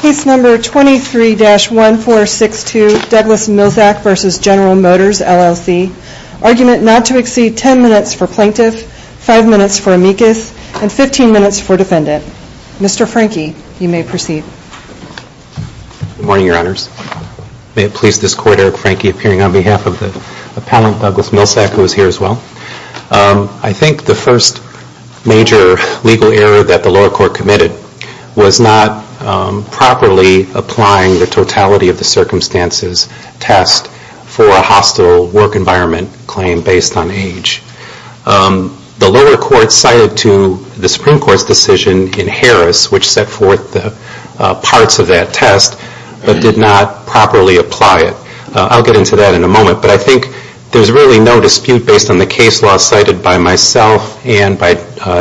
Case number 23-1462, Douglas Milczak v. General Motors LLC. Argument not to exceed 10 minutes for plaintiff, 5 minutes for amicus, and 15 minutes for defendant. Mr. Franke, you may proceed. Good morning, your honors. May it please this court, Eric Franke, appearing on behalf of the appellant, Douglas Milczak, who is here as well. I think the first major legal error that the lower court committed was not properly applying the totality of the circumstances test for a hostile work environment claim based on age. The lower court cited to the Supreme Court's decision in Harris, which set forth the parts of that test, but did not properly apply it. I'll get into that in a moment, but I think there's really no dispute based on the case law cited by myself and by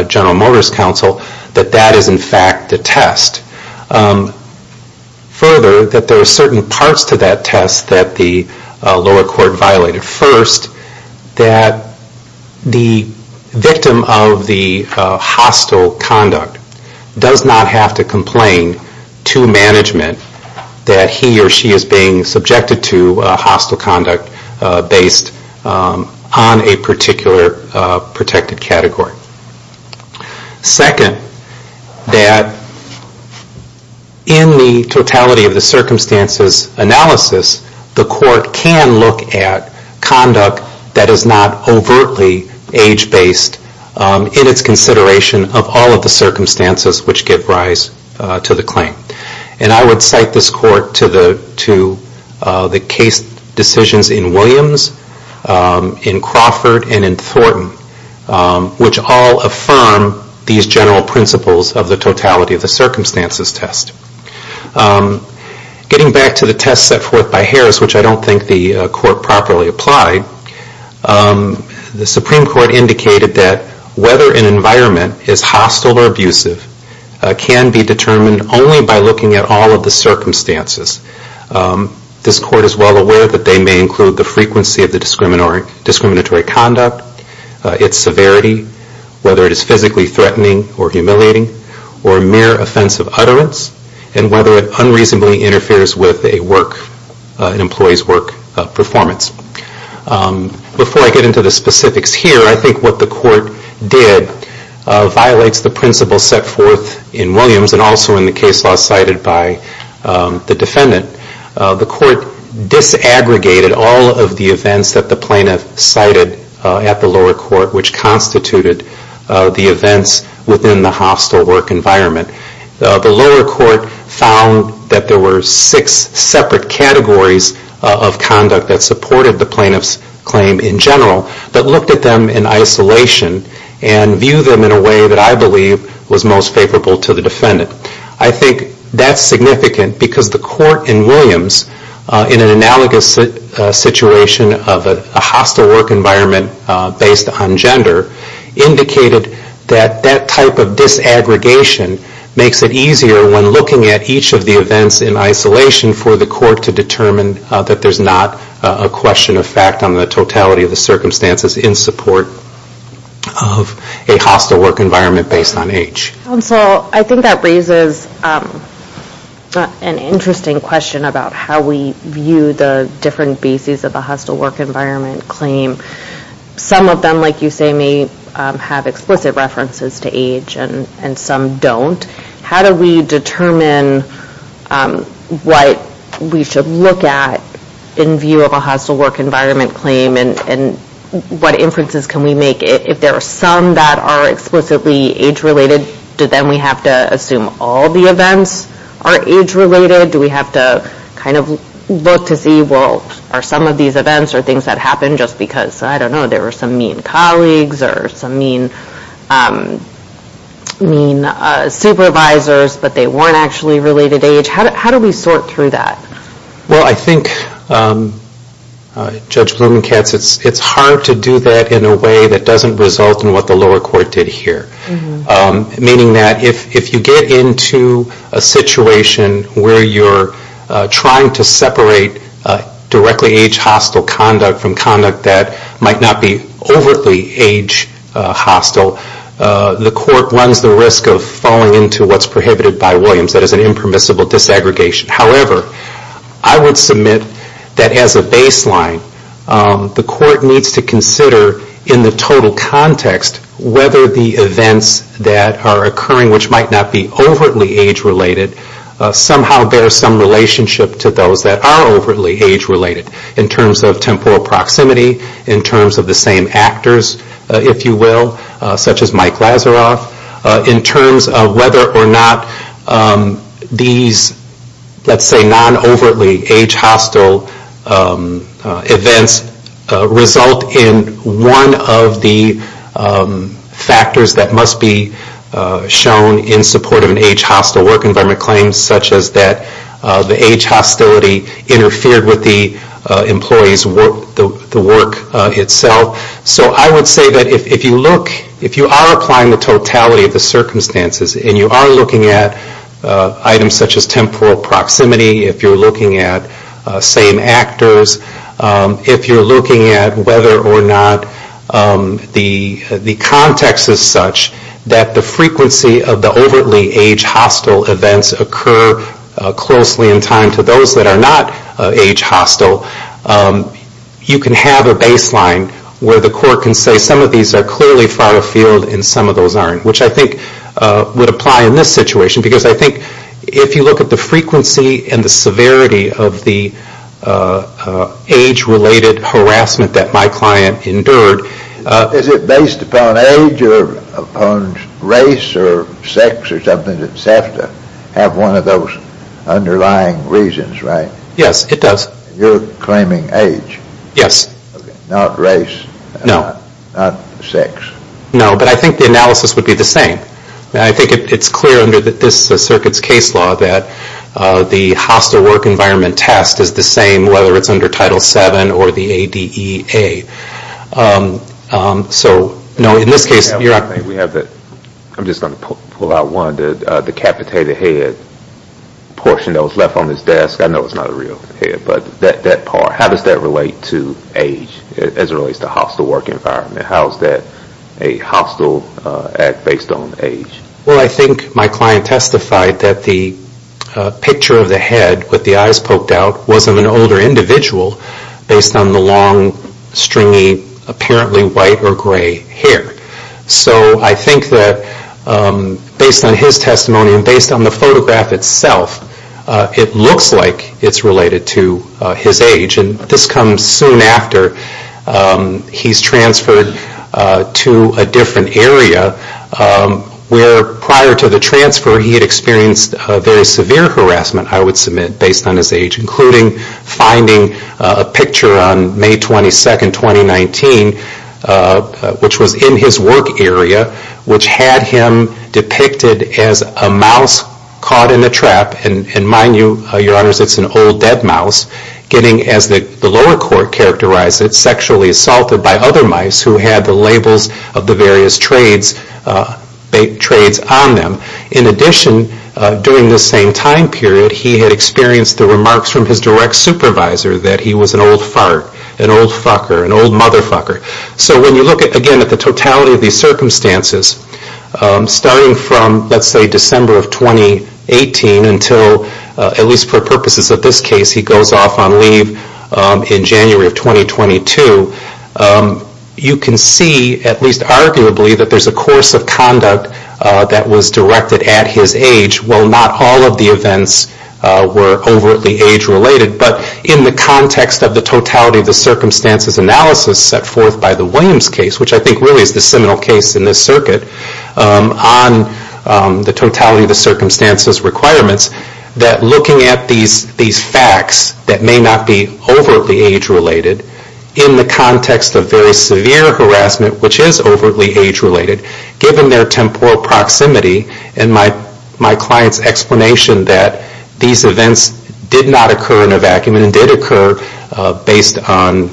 General Motors Council that that is in fact the test. Further, that there are certain parts to that test that the lower court violated. First, that the victim of the hostile conduct does not have to complain to management that he or she is being subjected to hostile conduct based on a particular protected category. Second, that in the totality of the circumstances analysis, the court can look at conduct that is not overtly age-based in its consideration of all of the circumstances which give rise to the claim. I would cite this court to the case decisions in Williams, in Crawford, and in Thornton, which all affirm these general principles of the totality of the circumstances test. Getting back to the test set forth by Harris, which I don't think the court properly applied, the Supreme Court indicated that whether an environment is hostile or abusive can be determined only by looking at all of the circumstances. This court is well aware that they may include the frequency of the discriminatory conduct, its severity, whether it is physically threatening or humiliating, or mere offensive utterance, and whether it unreasonably interferes with an employee's work performance. Before I get into the specifics here, I think what the court did violates the principles set forth in Williams and also in the case law cited by the defendant. The court disaggregated all of the events that the plaintiff cited at the lower court, which constituted the events within the hostile work environment. The lower court found that there were six separate categories of conduct that supported the plaintiff's claim in general, but looked at them in isolation and viewed them in a way that I believe was most favorable to the defendant. I think that's significant because the court in Williams, in an analogous situation of a hostile work environment based on gender, indicated that that type of disaggregation makes it easier when looking at each of the events in isolation for the court to determine that there's not a question of fact on the totality of the circumstances in support of a hostile work environment based on age. I think that raises an interesting question about how we view the different bases of a hostile work environment claim. Some of them, like you say, may have explicit references to age and some don't. How do we determine what we should look at in view of a hostile work environment claim and what inferences can we make? If there are some that are explicitly age-related, do then we have to assume all the events are age-related? Do we have to kind of look to see, well, are some of these events or things that happened just because, I don't know, there were some mean colleagues or some mean supervisors but they weren't actually related to age? How do we sort through that? Well, I think, Judge Blumenkatz, it's hard to do that in a way that doesn't result in what the lower court did here, meaning that if you get into a situation where you're trying to separate directly age-hostile conduct from conduct that might not be overtly age-hostile, the court runs the risk of falling into what's prohibited by Williams, that is an impermissible disaggregation. However, I would submit that as a baseline, the court needs to consider in the total context whether the events that are occurring, which might not be overtly age-related, somehow bear some relationship to those that are overtly age-related in terms of temporal proximity, in terms of the same actors, if you will, such as Mike Lazaroff, in terms of whether or not these, let's say, non-overtly age-hostile events result in one of the factors that must be shown in support of an age-hostile work environment claim, such as that the age-hostility interfered with the employee's work itself. So I would say that if you are applying the totality of the circumstances and you are looking at items such as temporal proximity, if you're looking at same actors, if you're looking at whether or not the context is such that the frequency of the overtly age-hostile events occur closely in time to those that are not age-hostile, you can have a baseline where the court can say some of these are clearly far afield and some of those aren't, which I think would apply in this situation, because I think if you look at the frequency and the severity of the age-related harassment that my client endured... Is it based upon age or upon race or sex or something that has to have one of those underlying reasons, right? Yes, it does. You're claiming age. Yes. Not race. No. Not sex. No, but I think the analysis would be the same. I think it's clear under this circuit's case law that the hostile work environment test is the same whether it's under Title VII or the ADEA. So, no, in this case... I'm just going to pull out one, the decapitated head portion that was left on this desk. I know it's not a real head, but that part, how does that relate to age as it relates to hostile work environment? How is that a hostile act based on age? Well, I think my client testified that the picture of the head with the eyes poked out was of an older individual based on the long, stringy, apparently white or gray hair. So I think that based on his testimony and based on the photograph itself, it looks like it's related to his age. And this comes soon after. He's transferred to a different area where prior to the transfer he had experienced very severe harassment, I would submit, based on his age, including finding a picture on May 22, 2019, which was in his work area, which had him depicted as a mouse caught in a trap. And mind you, Your Honors, it's an old dead mouse getting, as the lower court characterized it, sexually assaulted by other mice who had the labels of the various trades on them. In addition, during this same time period, he had experienced the remarks from his direct supervisor that he was an old fart, an old fucker, an old motherfucker. So when you look, again, at the totality of these circumstances, starting from, let's say, December of 2018 until, at least for purposes of this case, he goes off on leave in January of 2022, you can see, at least arguably, that there's a course of conduct that was directed at his age. While not all of the events were overtly age-related, but in the context of the totality of the circumstances analysis set forth by the Williams case, which I think really is the seminal case in this circuit on the totality of the circumstances requirements, that looking at these facts that may not be overtly age-related in the context of very severe harassment, which is overtly age-related, given their temporal proximity and my client's explanation that these events did not occur in a vacuum and did occur based on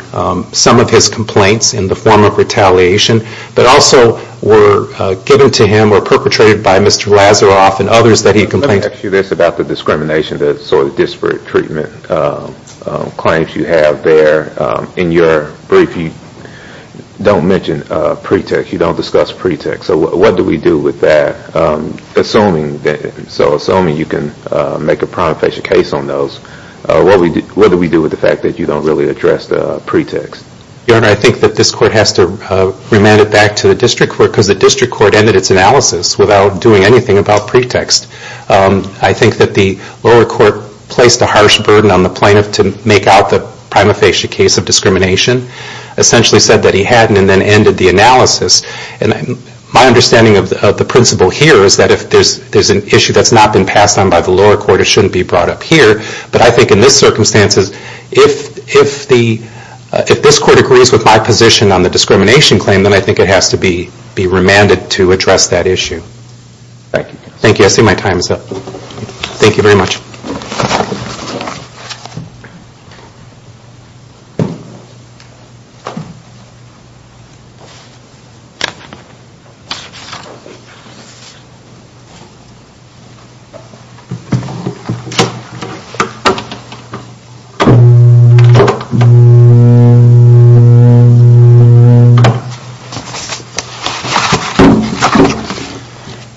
some of his complaints in the form of retaliation, but also were given to him or perpetrated by Mr. Lazaroff and others that he complained to. Let me ask you this about the discrimination, the sort of disparate treatment claims you have there. In your brief, you don't mention pretext. You don't discuss pretext. So what do we do with that? So assuming you can make a prima facie case on those, what do we do with the fact that you don't really address the pretext? Your Honor, I think that this Court has to remand it back to the District Court because the District Court ended its analysis without doing anything about pretext. I think that the lower court placed a harsh burden on the plaintiff to make out the prima facie case of discrimination, essentially said that he hadn't and then ended the analysis. My understanding of the principle here is that if there's an issue that's not been passed on by the lower court, it shouldn't be brought up here. But I think in this circumstance, if this Court agrees with my position on the discrimination claim, then I think it has to be remanded to address that issue. Thank you. Thank you. I see my time is up. Thank you very much.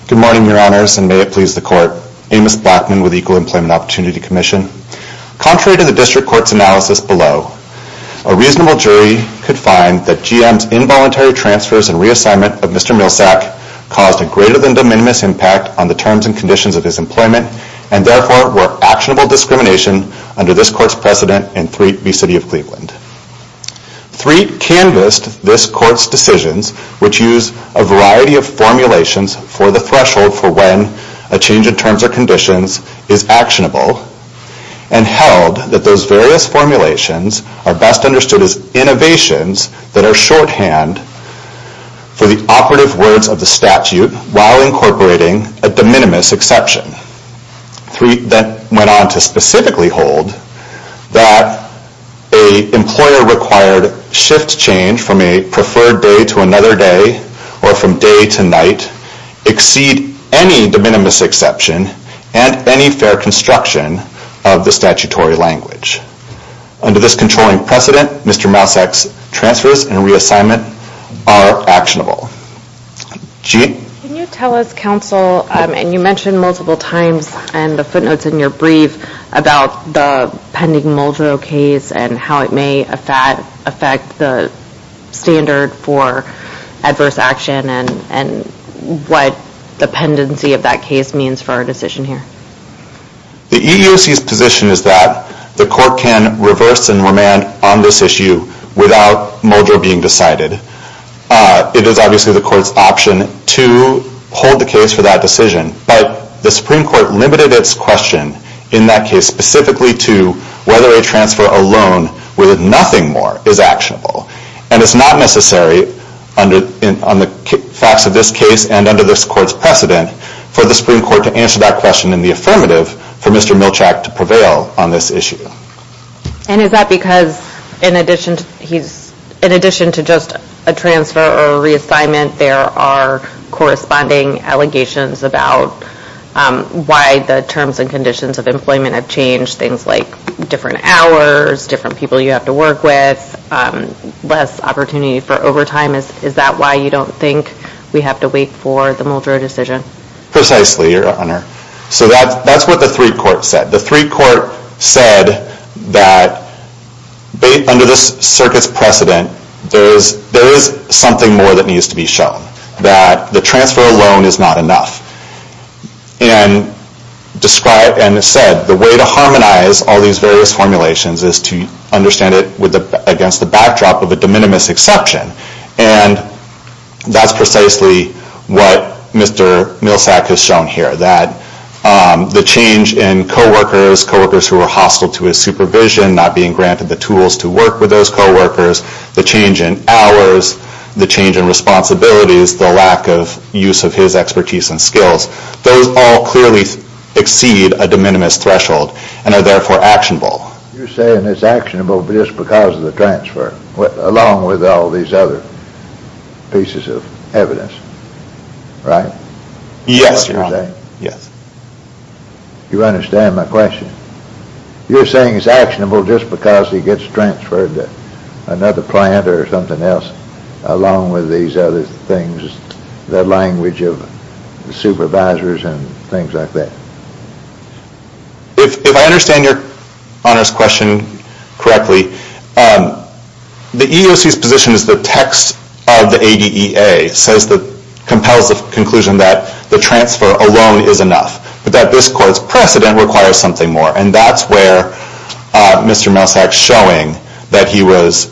Good morning, Your Honors, and may it please the Court. Amos Blackman with Equal Employment Opportunity Commission. Contrary to the District Court's analysis below, a reasonable jury could find that GM's involuntary transfers and reassignment of Mr. Milsak caused a greater than de minimis impact on the terms and conditions of his determination under this Court's precedent in Threat v. City of Cleveland. Threat canvassed this Court's decisions, which use a variety of formulations for the threshold for when a change in terms or conditions is actionable, and held that those various formulations are best understood as innovations that are shorthand for the operative words of the statute while incorporating a de minimis exception. Threat then went on to specifically hold that a employer-required shift change from a preferred day to another day or from day to night exceed any de minimis exception and any fair construction of the statutory language. Under this controlling precedent, Mr. Milsak's transfers and reassignment are actionable. Jean? Can you tell us, Counsel, and you mentioned multiple times in the footnotes in your brief about the pending Muldrow case and how it may affect the standard for adverse action and what dependency of that case means for our decision here? The EEOC's position is that the Court can reverse and remand on this issue without Muldrow being decided. It is obviously the Court's option to hold the case for that decision, but the Supreme Court limited its question in that case specifically to whether a transfer alone with nothing more is actionable. And it's not necessary on the facts of this case and under this Court's precedent for the Supreme Court to answer that question in the affirmative for Mr. Milsak to prevail on this issue. And is that because in addition to just a transfer or reassignment, there are corresponding allegations about why the terms and conditions of employment have changed, things like different hours, different people you have to work with, less opportunity for overtime? Is that why you don't think we have to wait for the Muldrow decision? Precisely, Your Honor. So that's what the three courts said. The three court said that under this circuit's precedent, there is something more that needs to be shown, that the transfer alone is not enough. And described and said the way to harmonize all these various formulations is to understand it against the backdrop of a de minimis exception. And that's precisely what Mr. Milsak has shown here, that the change in co-workers, co-workers who are hostile to his supervision, not being granted the tools to work with those co-workers, the change in hours, the change in responsibilities, the lack of use of his expertise and skills, those all clearly exceed a de minimis threshold and are therefore actionable. You're saying it's actionable just because of the transfer, along with all these other pieces of evidence, right? Yes, Your Honor. Yes. You understand my question. You're saying it's actionable just because he gets transferred to another plant or something else, along with these other things, the language of supervisors and things like that. If I understand Your Honor's question correctly, the EEOC's position is the that this court's precedent requires something more. And that's where Mr. Milsak's showing that he was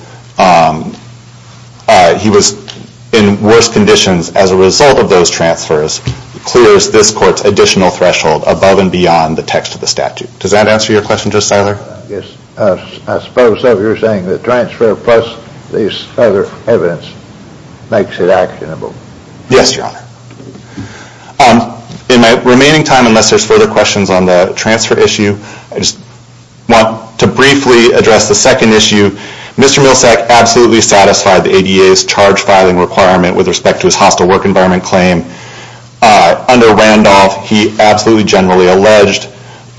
in worse conditions as a result of those transfers clears this court's additional threshold above and beyond the text of the statute. Does that answer your question, Justice Siler? Yes. I suppose so. You're saying the transfer plus these other evidence makes it actionable. Yes, Your Honor. In my remaining time, unless there's further questions on the transfer issue, I just want to briefly address the second issue. Mr. Milsak absolutely satisfied the ADA's charge filing requirement with respect to his hostile work environment claim. Under Randolph, he absolutely generally alleged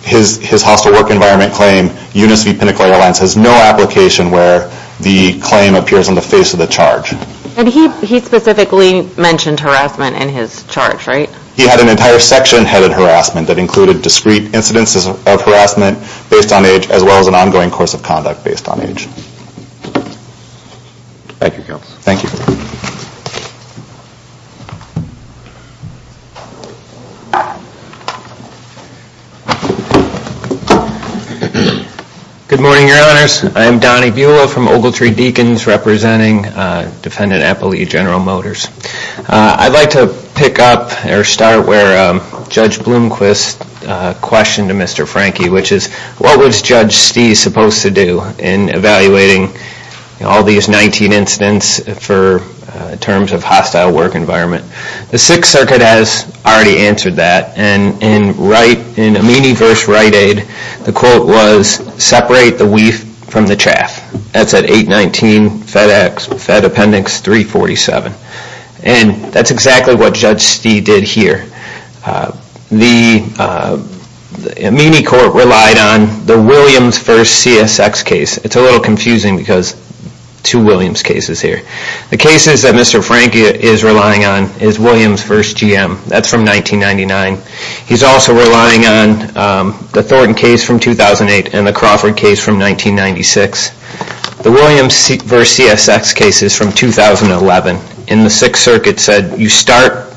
his hostile work environment claim, UNICEF Pinnacle Airlines has no application where the claim appears on the face of the charge. And he specifically mentioned harassment in his charge, right? He had an entire section headed harassment that included discreet incidences of harassment based on age as well as an ongoing course of conduct based on age. Thank you, Counsel. Thank you. Good morning, Your Honors. I'm Donnie Buehler from Ogletree Deacons representing Defendant Appellee General Motors. I'd like to pick up or start where Judge Blomquist questioned to Mr. Franke, which is what was Judge Steeves supposed to do in evaluating all these 19 incidents for terms of hostile work environment? The Sixth Circuit has already answered that. And in Amini v. Wright-Ade, the quote was, separate the weaf from the chaff. That's at 819 Fed Appendix 347. And that's exactly what Judge Steeves did here. The Amini court relied on the Williams v. CSX case. It's a little confusing because two Williams cases here. The cases that Mr. Franke is relying on is Williams v. GM. That's from 1999. He's also relying on the Thornton case from 2008 and the Crawford case from 1996. The Williams v. CSX case is from 2011. And the Sixth Circuit said you start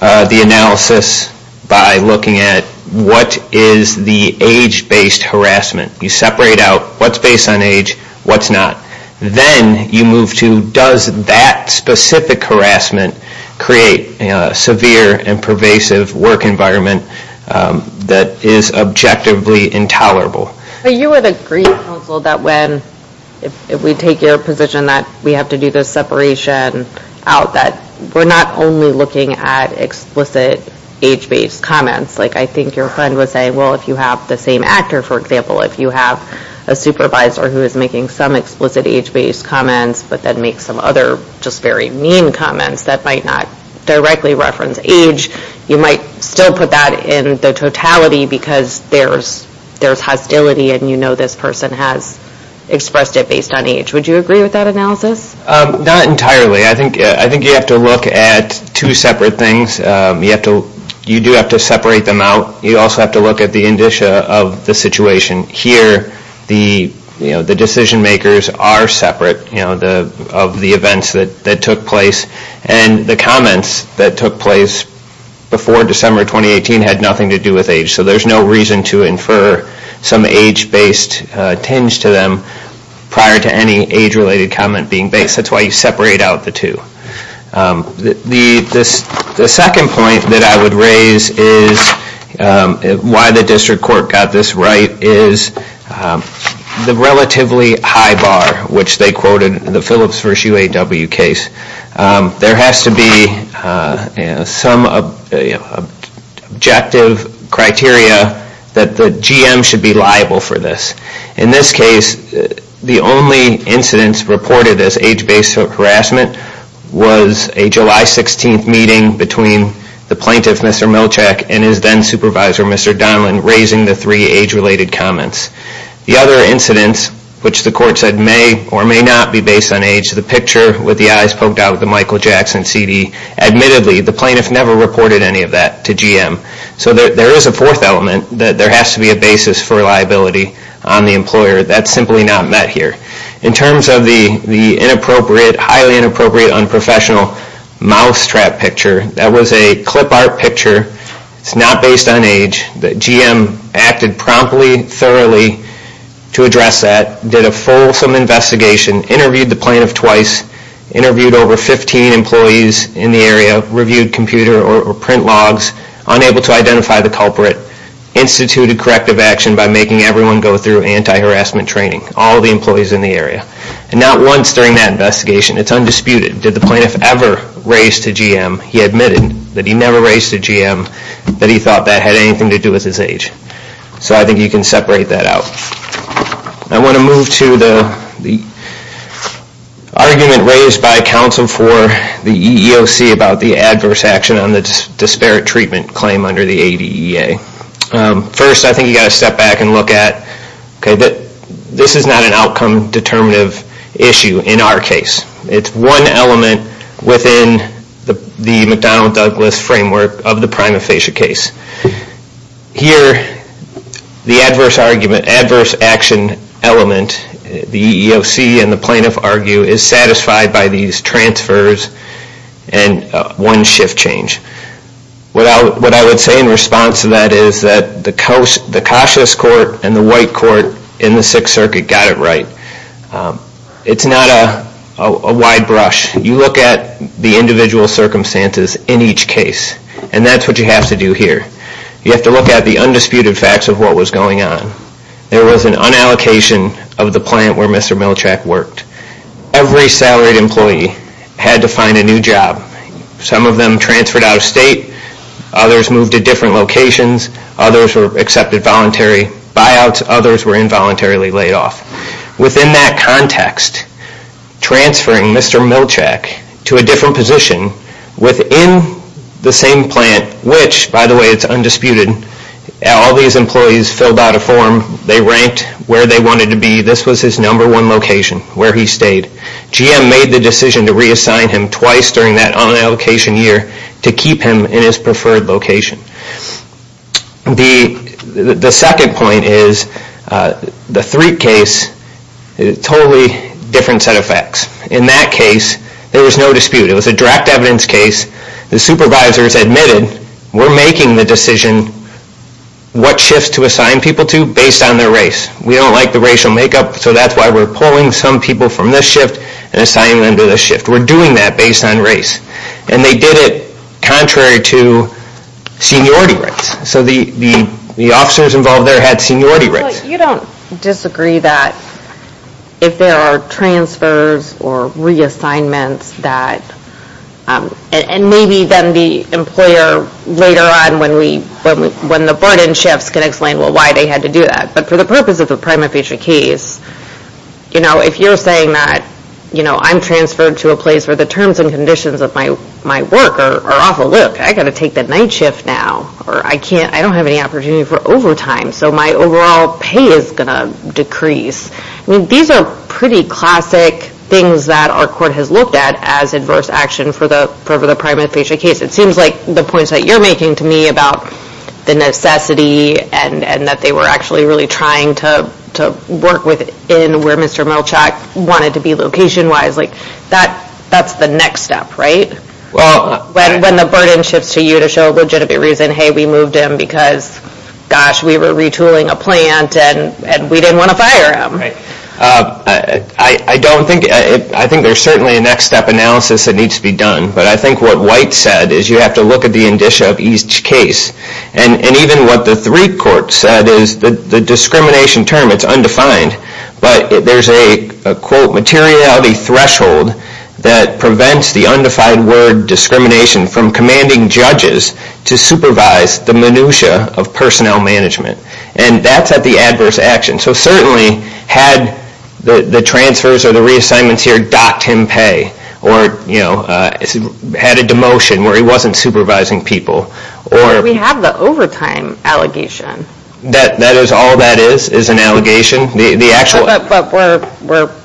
the analysis by looking at what is the age-based harassment. You separate out what's based on age, what's not. Then you move to does that specific harassment create a severe and pervasive work environment that is objectively intolerable? You would agree, counsel, that when we take your position that we have to do the separation out, that we're not only looking at explicit age-based comments. Like I think your friend would say, well, if you have the same actor, for example, if you have a supervisor who is making some explicit age-based comments but then makes some other just very mean comments that might not directly reference age, you might still put that in the totality because there's hostility and you know this person has expressed it based on age. Would you agree with that analysis? Not entirely. I think you have to look at two separate things. You do have to separate them out. You also have to look at the indicia of the situation. Here the decision-makers are separate of the events that took place, and the comments that took place before December 2018 had nothing to do with age. So there's no reason to infer some age-based tinge to them prior to any age-related comment being based. That's why you separate out the two. The second point that I would raise is why the district court got this right is the relatively high bar, which they quoted in the Phillips v. UAW case. There has to be some objective criteria that the GM should be liable for this. In this case, the only incidents reported as age-based harassment was a July 16th meeting between the plaintiff, Mr. Milchak, and his then supervisor, Mr. Donlan, raising the three age-related comments. The other incidents, which the court said may or may not be based on age, the picture with the eyes poked out of the Michael Jackson CD, admittedly the plaintiff never reported any of that to GM. So there is a fourth element that there has to be a basis for liability on the employer. That's simply not met here. In terms of the inappropriate, highly inappropriate, unprofessional mousetrap picture, that was a clip art picture. It's not based on age. GM acted promptly, thoroughly to address that, did a fulsome investigation, interviewed the plaintiff twice, interviewed over 15 employees in the area, reviewed computer or print logs, unable to identify the culprit, instituted corrective action by making everyone go through anti-harassment training, all the employees in the area. And not once during that investigation, it's undisputed, did the plaintiff ever raise to GM, he admitted that he never raised to GM, that he thought that had anything to do with his age. So I think you can separate that out. I want to move to the argument raised by counsel for the EEOC about the adverse action on the disparate treatment claim under the ADEA. First, I think you've got to step back and look at this is not an outcome determinative issue in our case. It's one element within the McDonnell-Douglas framework of the prima facie case. Here, the adverse argument, adverse action element, the EEOC and the plaintiff argue, is satisfied by these transfers and one shift change. What I would say in response to that is that the cautious court and the white court in the Sixth Circuit got it right. It's not a wide brush. You look at the individual circumstances in each case, and that's what you have to do here. You have to look at the undisputed facts of what was going on. There was an unallocation of the plant where Mr. Milchak worked. Every salaried employee had to find a new job. Some of them transferred out of state. Others moved to different locations. Others were accepted voluntary buyouts. Others were involuntarily laid off. Within that context, transferring Mr. Milchak to a different position within the same plant, which, by the way, it's undisputed, all these employees filled out a form. They ranked where they wanted to be. This was his number one location where he stayed. GM made the decision to reassign him twice during that unallocation year to keep him in his preferred location. The second point is the Threak case, totally different set of facts. In that case, there was no dispute. It was a direct evidence case. The supervisors admitted we're making the decision what shifts to assign people to based on their race. We don't like the racial makeup, so that's why we're pulling some people from this shift and assigning them to this shift. We're doing that based on race. And they did it contrary to seniority rights. So the officers involved there had seniority rights. Well, you don't disagree that if there are transfers or reassignments that and maybe then the employer later on when the burden shifts can explain why they had to do that. But for the purpose of the prima facie case, if you're saying that I'm transferred to a place where the terms and conditions of my work are awful, look, I've got to take the night shift now or I don't have any opportunity for overtime. So my overall pay is going to decrease. These are pretty classic things that our court has looked at as adverse action for the prima facie case. It seems like the points that you're making to me about the necessity and that they were actually really trying to work within where Mr. Melchak wanted to be location-wise, that's the next step, right? When the burden shifts to you to show legitimate reason, hey, we moved him because, gosh, we were retooling a plant and we didn't want to fire him. I think there's certainly a next-step analysis that needs to be done. But I think what White said is you have to look at the indicia of each case. And even what the three courts said is the discrimination term, it's undefined, but there's a, quote, materiality threshold that prevents the undefined word discrimination from commanding judges to supervise the minutia of personnel management. And that's at the adverse action. So certainly had the transfers or the reassignments here docked him pay or had a demotion where he wasn't supervising people. Or we have the overtime allegation. That is all that is, is an allegation? No, but we're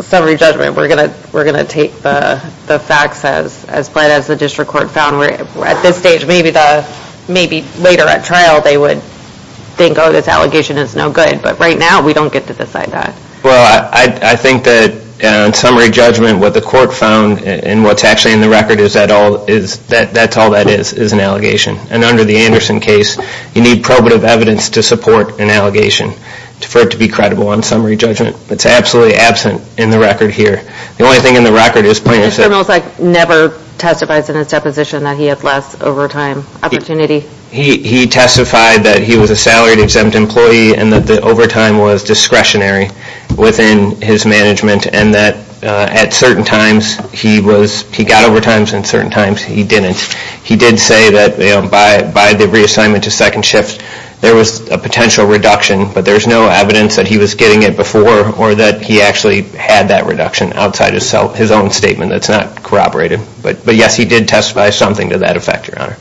summary judgment. We're going to take the facts as plain as the district court found. At this stage, maybe later at trial they would think, oh, this allegation is no good. But right now we don't get to decide that. Well, I think that in summary judgment what the court found and what's actually in the record is that's all that is, is an allegation. And under the Anderson case, you need probative evidence to support an allegation for it to be credible on summary judgment. It's absolutely absent in the record here. The only thing in the record is plain as it is. Mr. Mills never testified in his deposition that he had less overtime opportunity. He testified that he was a salaried exempt employee and that the overtime was discretionary within his management and that at certain times he got overtimes and at certain times he didn't. He did say that by the reassignment to second shift there was a potential reduction, but there's no evidence that he was getting it before or that he actually had that reduction outside his own statement. That's not corroborated. But, yes, he did testify something to that effect, Your Honor.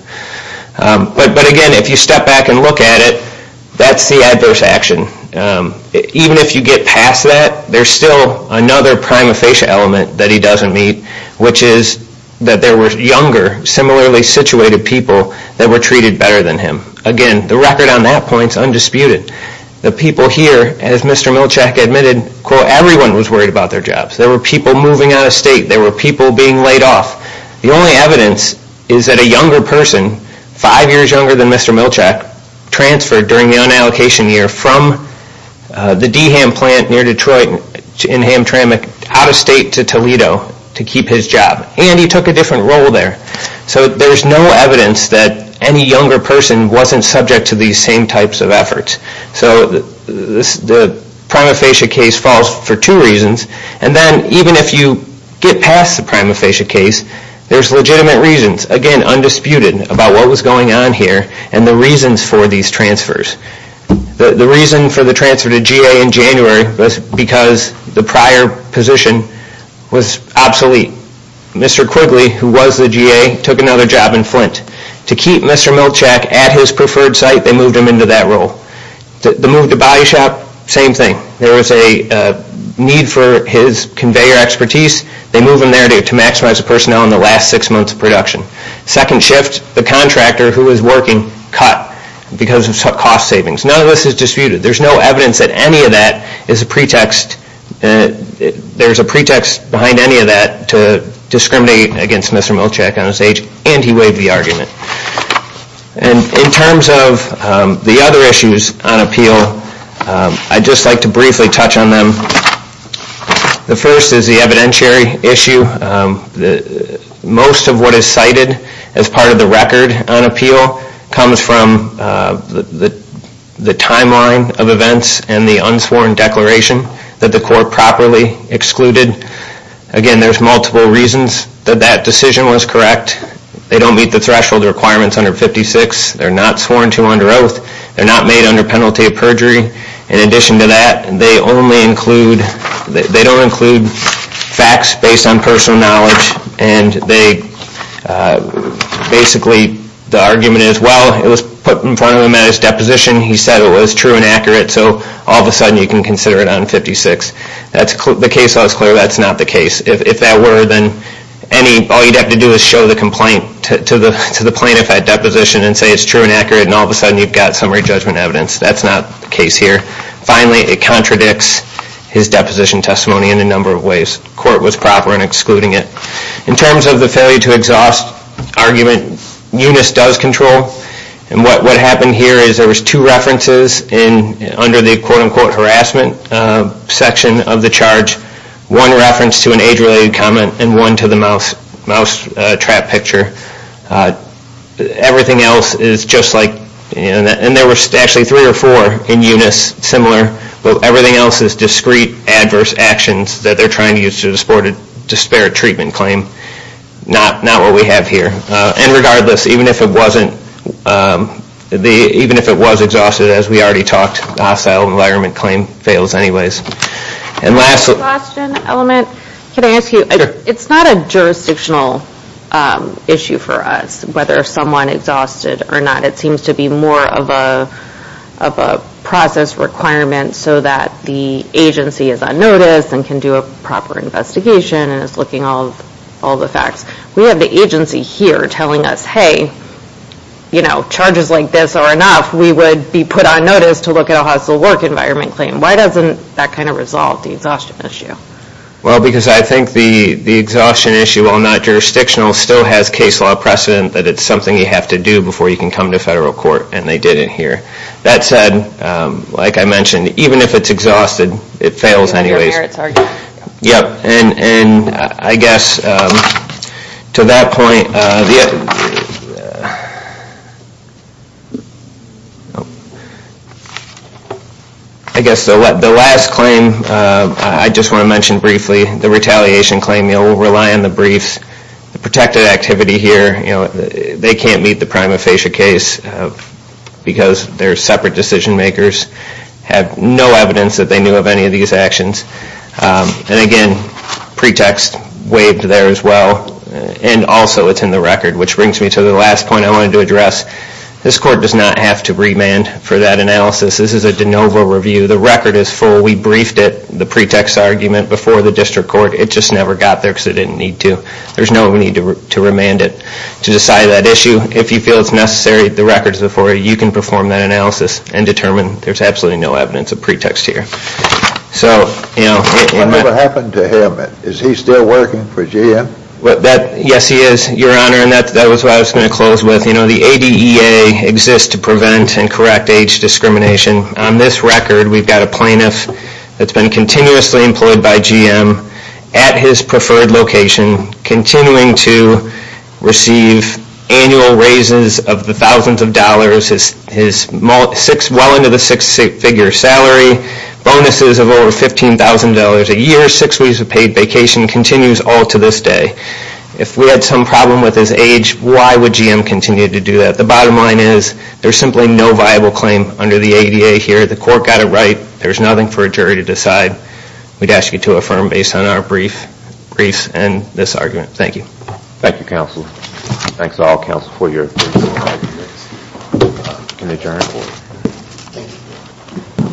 But, again, if you step back and look at it, that's the adverse action. Even if you get past that, there's still another prima facie element that he doesn't meet, which is that there were younger, similarly situated people that were treated better than him. Again, the record on that point is undisputed. The people here, as Mr. Milchak admitted, quote, everyone was worried about their jobs. There were people moving out of state. There were people being laid off. The only evidence is that a younger person, five years younger than Mr. Milchak, transferred during the unallocation year from the Deham plant near Detroit in Hamtramck out of state to Toledo to keep his job. And he took a different role there. So there's no evidence that any younger person wasn't subject to these same types of efforts. So the prima facie case falls for two reasons. And then even if you get past the prima facie case, there's legitimate reasons, again, undisputed, about what was going on here and the reasons for these transfers. The reason for the transfer to GA in January was because the prior position was obsolete. Mr. Quigley, who was the GA, took another job in Flint. To keep Mr. Milchak at his preferred site, they moved him into that role. The move to Body Shop, same thing. There was a need for his conveyor expertise. They moved him there to maximize the personnel in the last six months of production. Second shift, the contractor who was working cut because of cost savings. None of this is disputed. There's no evidence that any of that is a pretext. There's a pretext behind any of that to discriminate against Mr. Milchak and his age. And he waived the argument. And in terms of the other issues on appeal, I'd just like to briefly touch on them. The first is the evidentiary issue. Most of what is cited as part of the record on appeal comes from the timeline of events and the unsworn declaration that the court properly excluded. Again, there's multiple reasons that that decision was correct. They don't meet the threshold requirements under 56. They're not sworn to under oath. They're not made under penalty of perjury. In addition to that, they don't include facts based on personal knowledge. And basically the argument is, well, it was put in front of him at his deposition. He said it was true and accurate, so all of a sudden you can consider it on 56. The case law is clear that's not the case. If that were, then all you'd have to do is show the complaint to the plaintiff at deposition and say it's true and accurate, and all of a sudden you've got summary judgment evidence. That's not the case here. Finally, it contradicts his deposition testimony in a number of ways. The court was proper in excluding it. In terms of the failure to exhaust argument, Unis does control. And what happened here is there was two references under the quote-unquote harassment section of the charge, one reference to an age-related comment and one to the mouse trap picture. Everything else is just like, and there were actually three or four in Unis similar, but everything else is discrete adverse actions that they're trying to use to support a disparate treatment claim. Not what we have here. And regardless, even if it was exhausted, as we already talked, the hostile environment claim fails anyways. Last question, Element. Can I ask you, it's not a jurisdictional issue for us, whether someone exhausted or not. It seems to be more of a process requirement so that the agency is on notice and can do a proper investigation and is looking at all the facts. We have the agency here telling us, hey, charges like this are enough. We would be put on notice to look at a hostile work environment claim. Why doesn't that kind of resolve the exhaustion issue? Well, because I think the exhaustion issue, while not jurisdictional, still has case law precedent that it's something you have to do before you can come to federal court, and they did it here. That said, like I mentioned, even if it's exhausted, it fails anyways. And I guess to that point, I guess the last claim I just want to mention briefly, the retaliation claim, we'll rely on the briefs. The protected activity here, they can't meet the prima facie case because they're separate decision makers, have no evidence that they knew of any of these actions. And again, pretext waived there as well, and also it's in the record, which brings me to the last point I wanted to address. This court does not have to remand for that analysis. This is a de novo review. The record is full. We briefed it, the pretext argument, before the district court. It just never got there because it didn't need to. There's no need to remand it to decide that issue. If you feel it's necessary, the record's before you. You can perform that analysis and determine there's absolutely no evidence of pretext here. What happened to him? Is he still working for GM? Yes, he is, Your Honor, and that was what I was going to close with. The ADEA exists to prevent and correct age discrimination. On this record, we've got a plaintiff that's been continuously employed by GM at his preferred location, continuing to receive annual raises of the thousands of dollars, well into the six-figure salary, bonuses of over $15,000 a year, six weeks of paid vacation, continues all to this day. If we had some problem with his age, why would GM continue to do that? The bottom line is there's simply no viable claim under the ADEA here. The court got it right. There's nothing for a jury to decide. We'd ask you to affirm based on our briefs and this argument. Thank you. Thank you, counsel. Thanks to all counsel for your briefs and arguments. We can adjourn.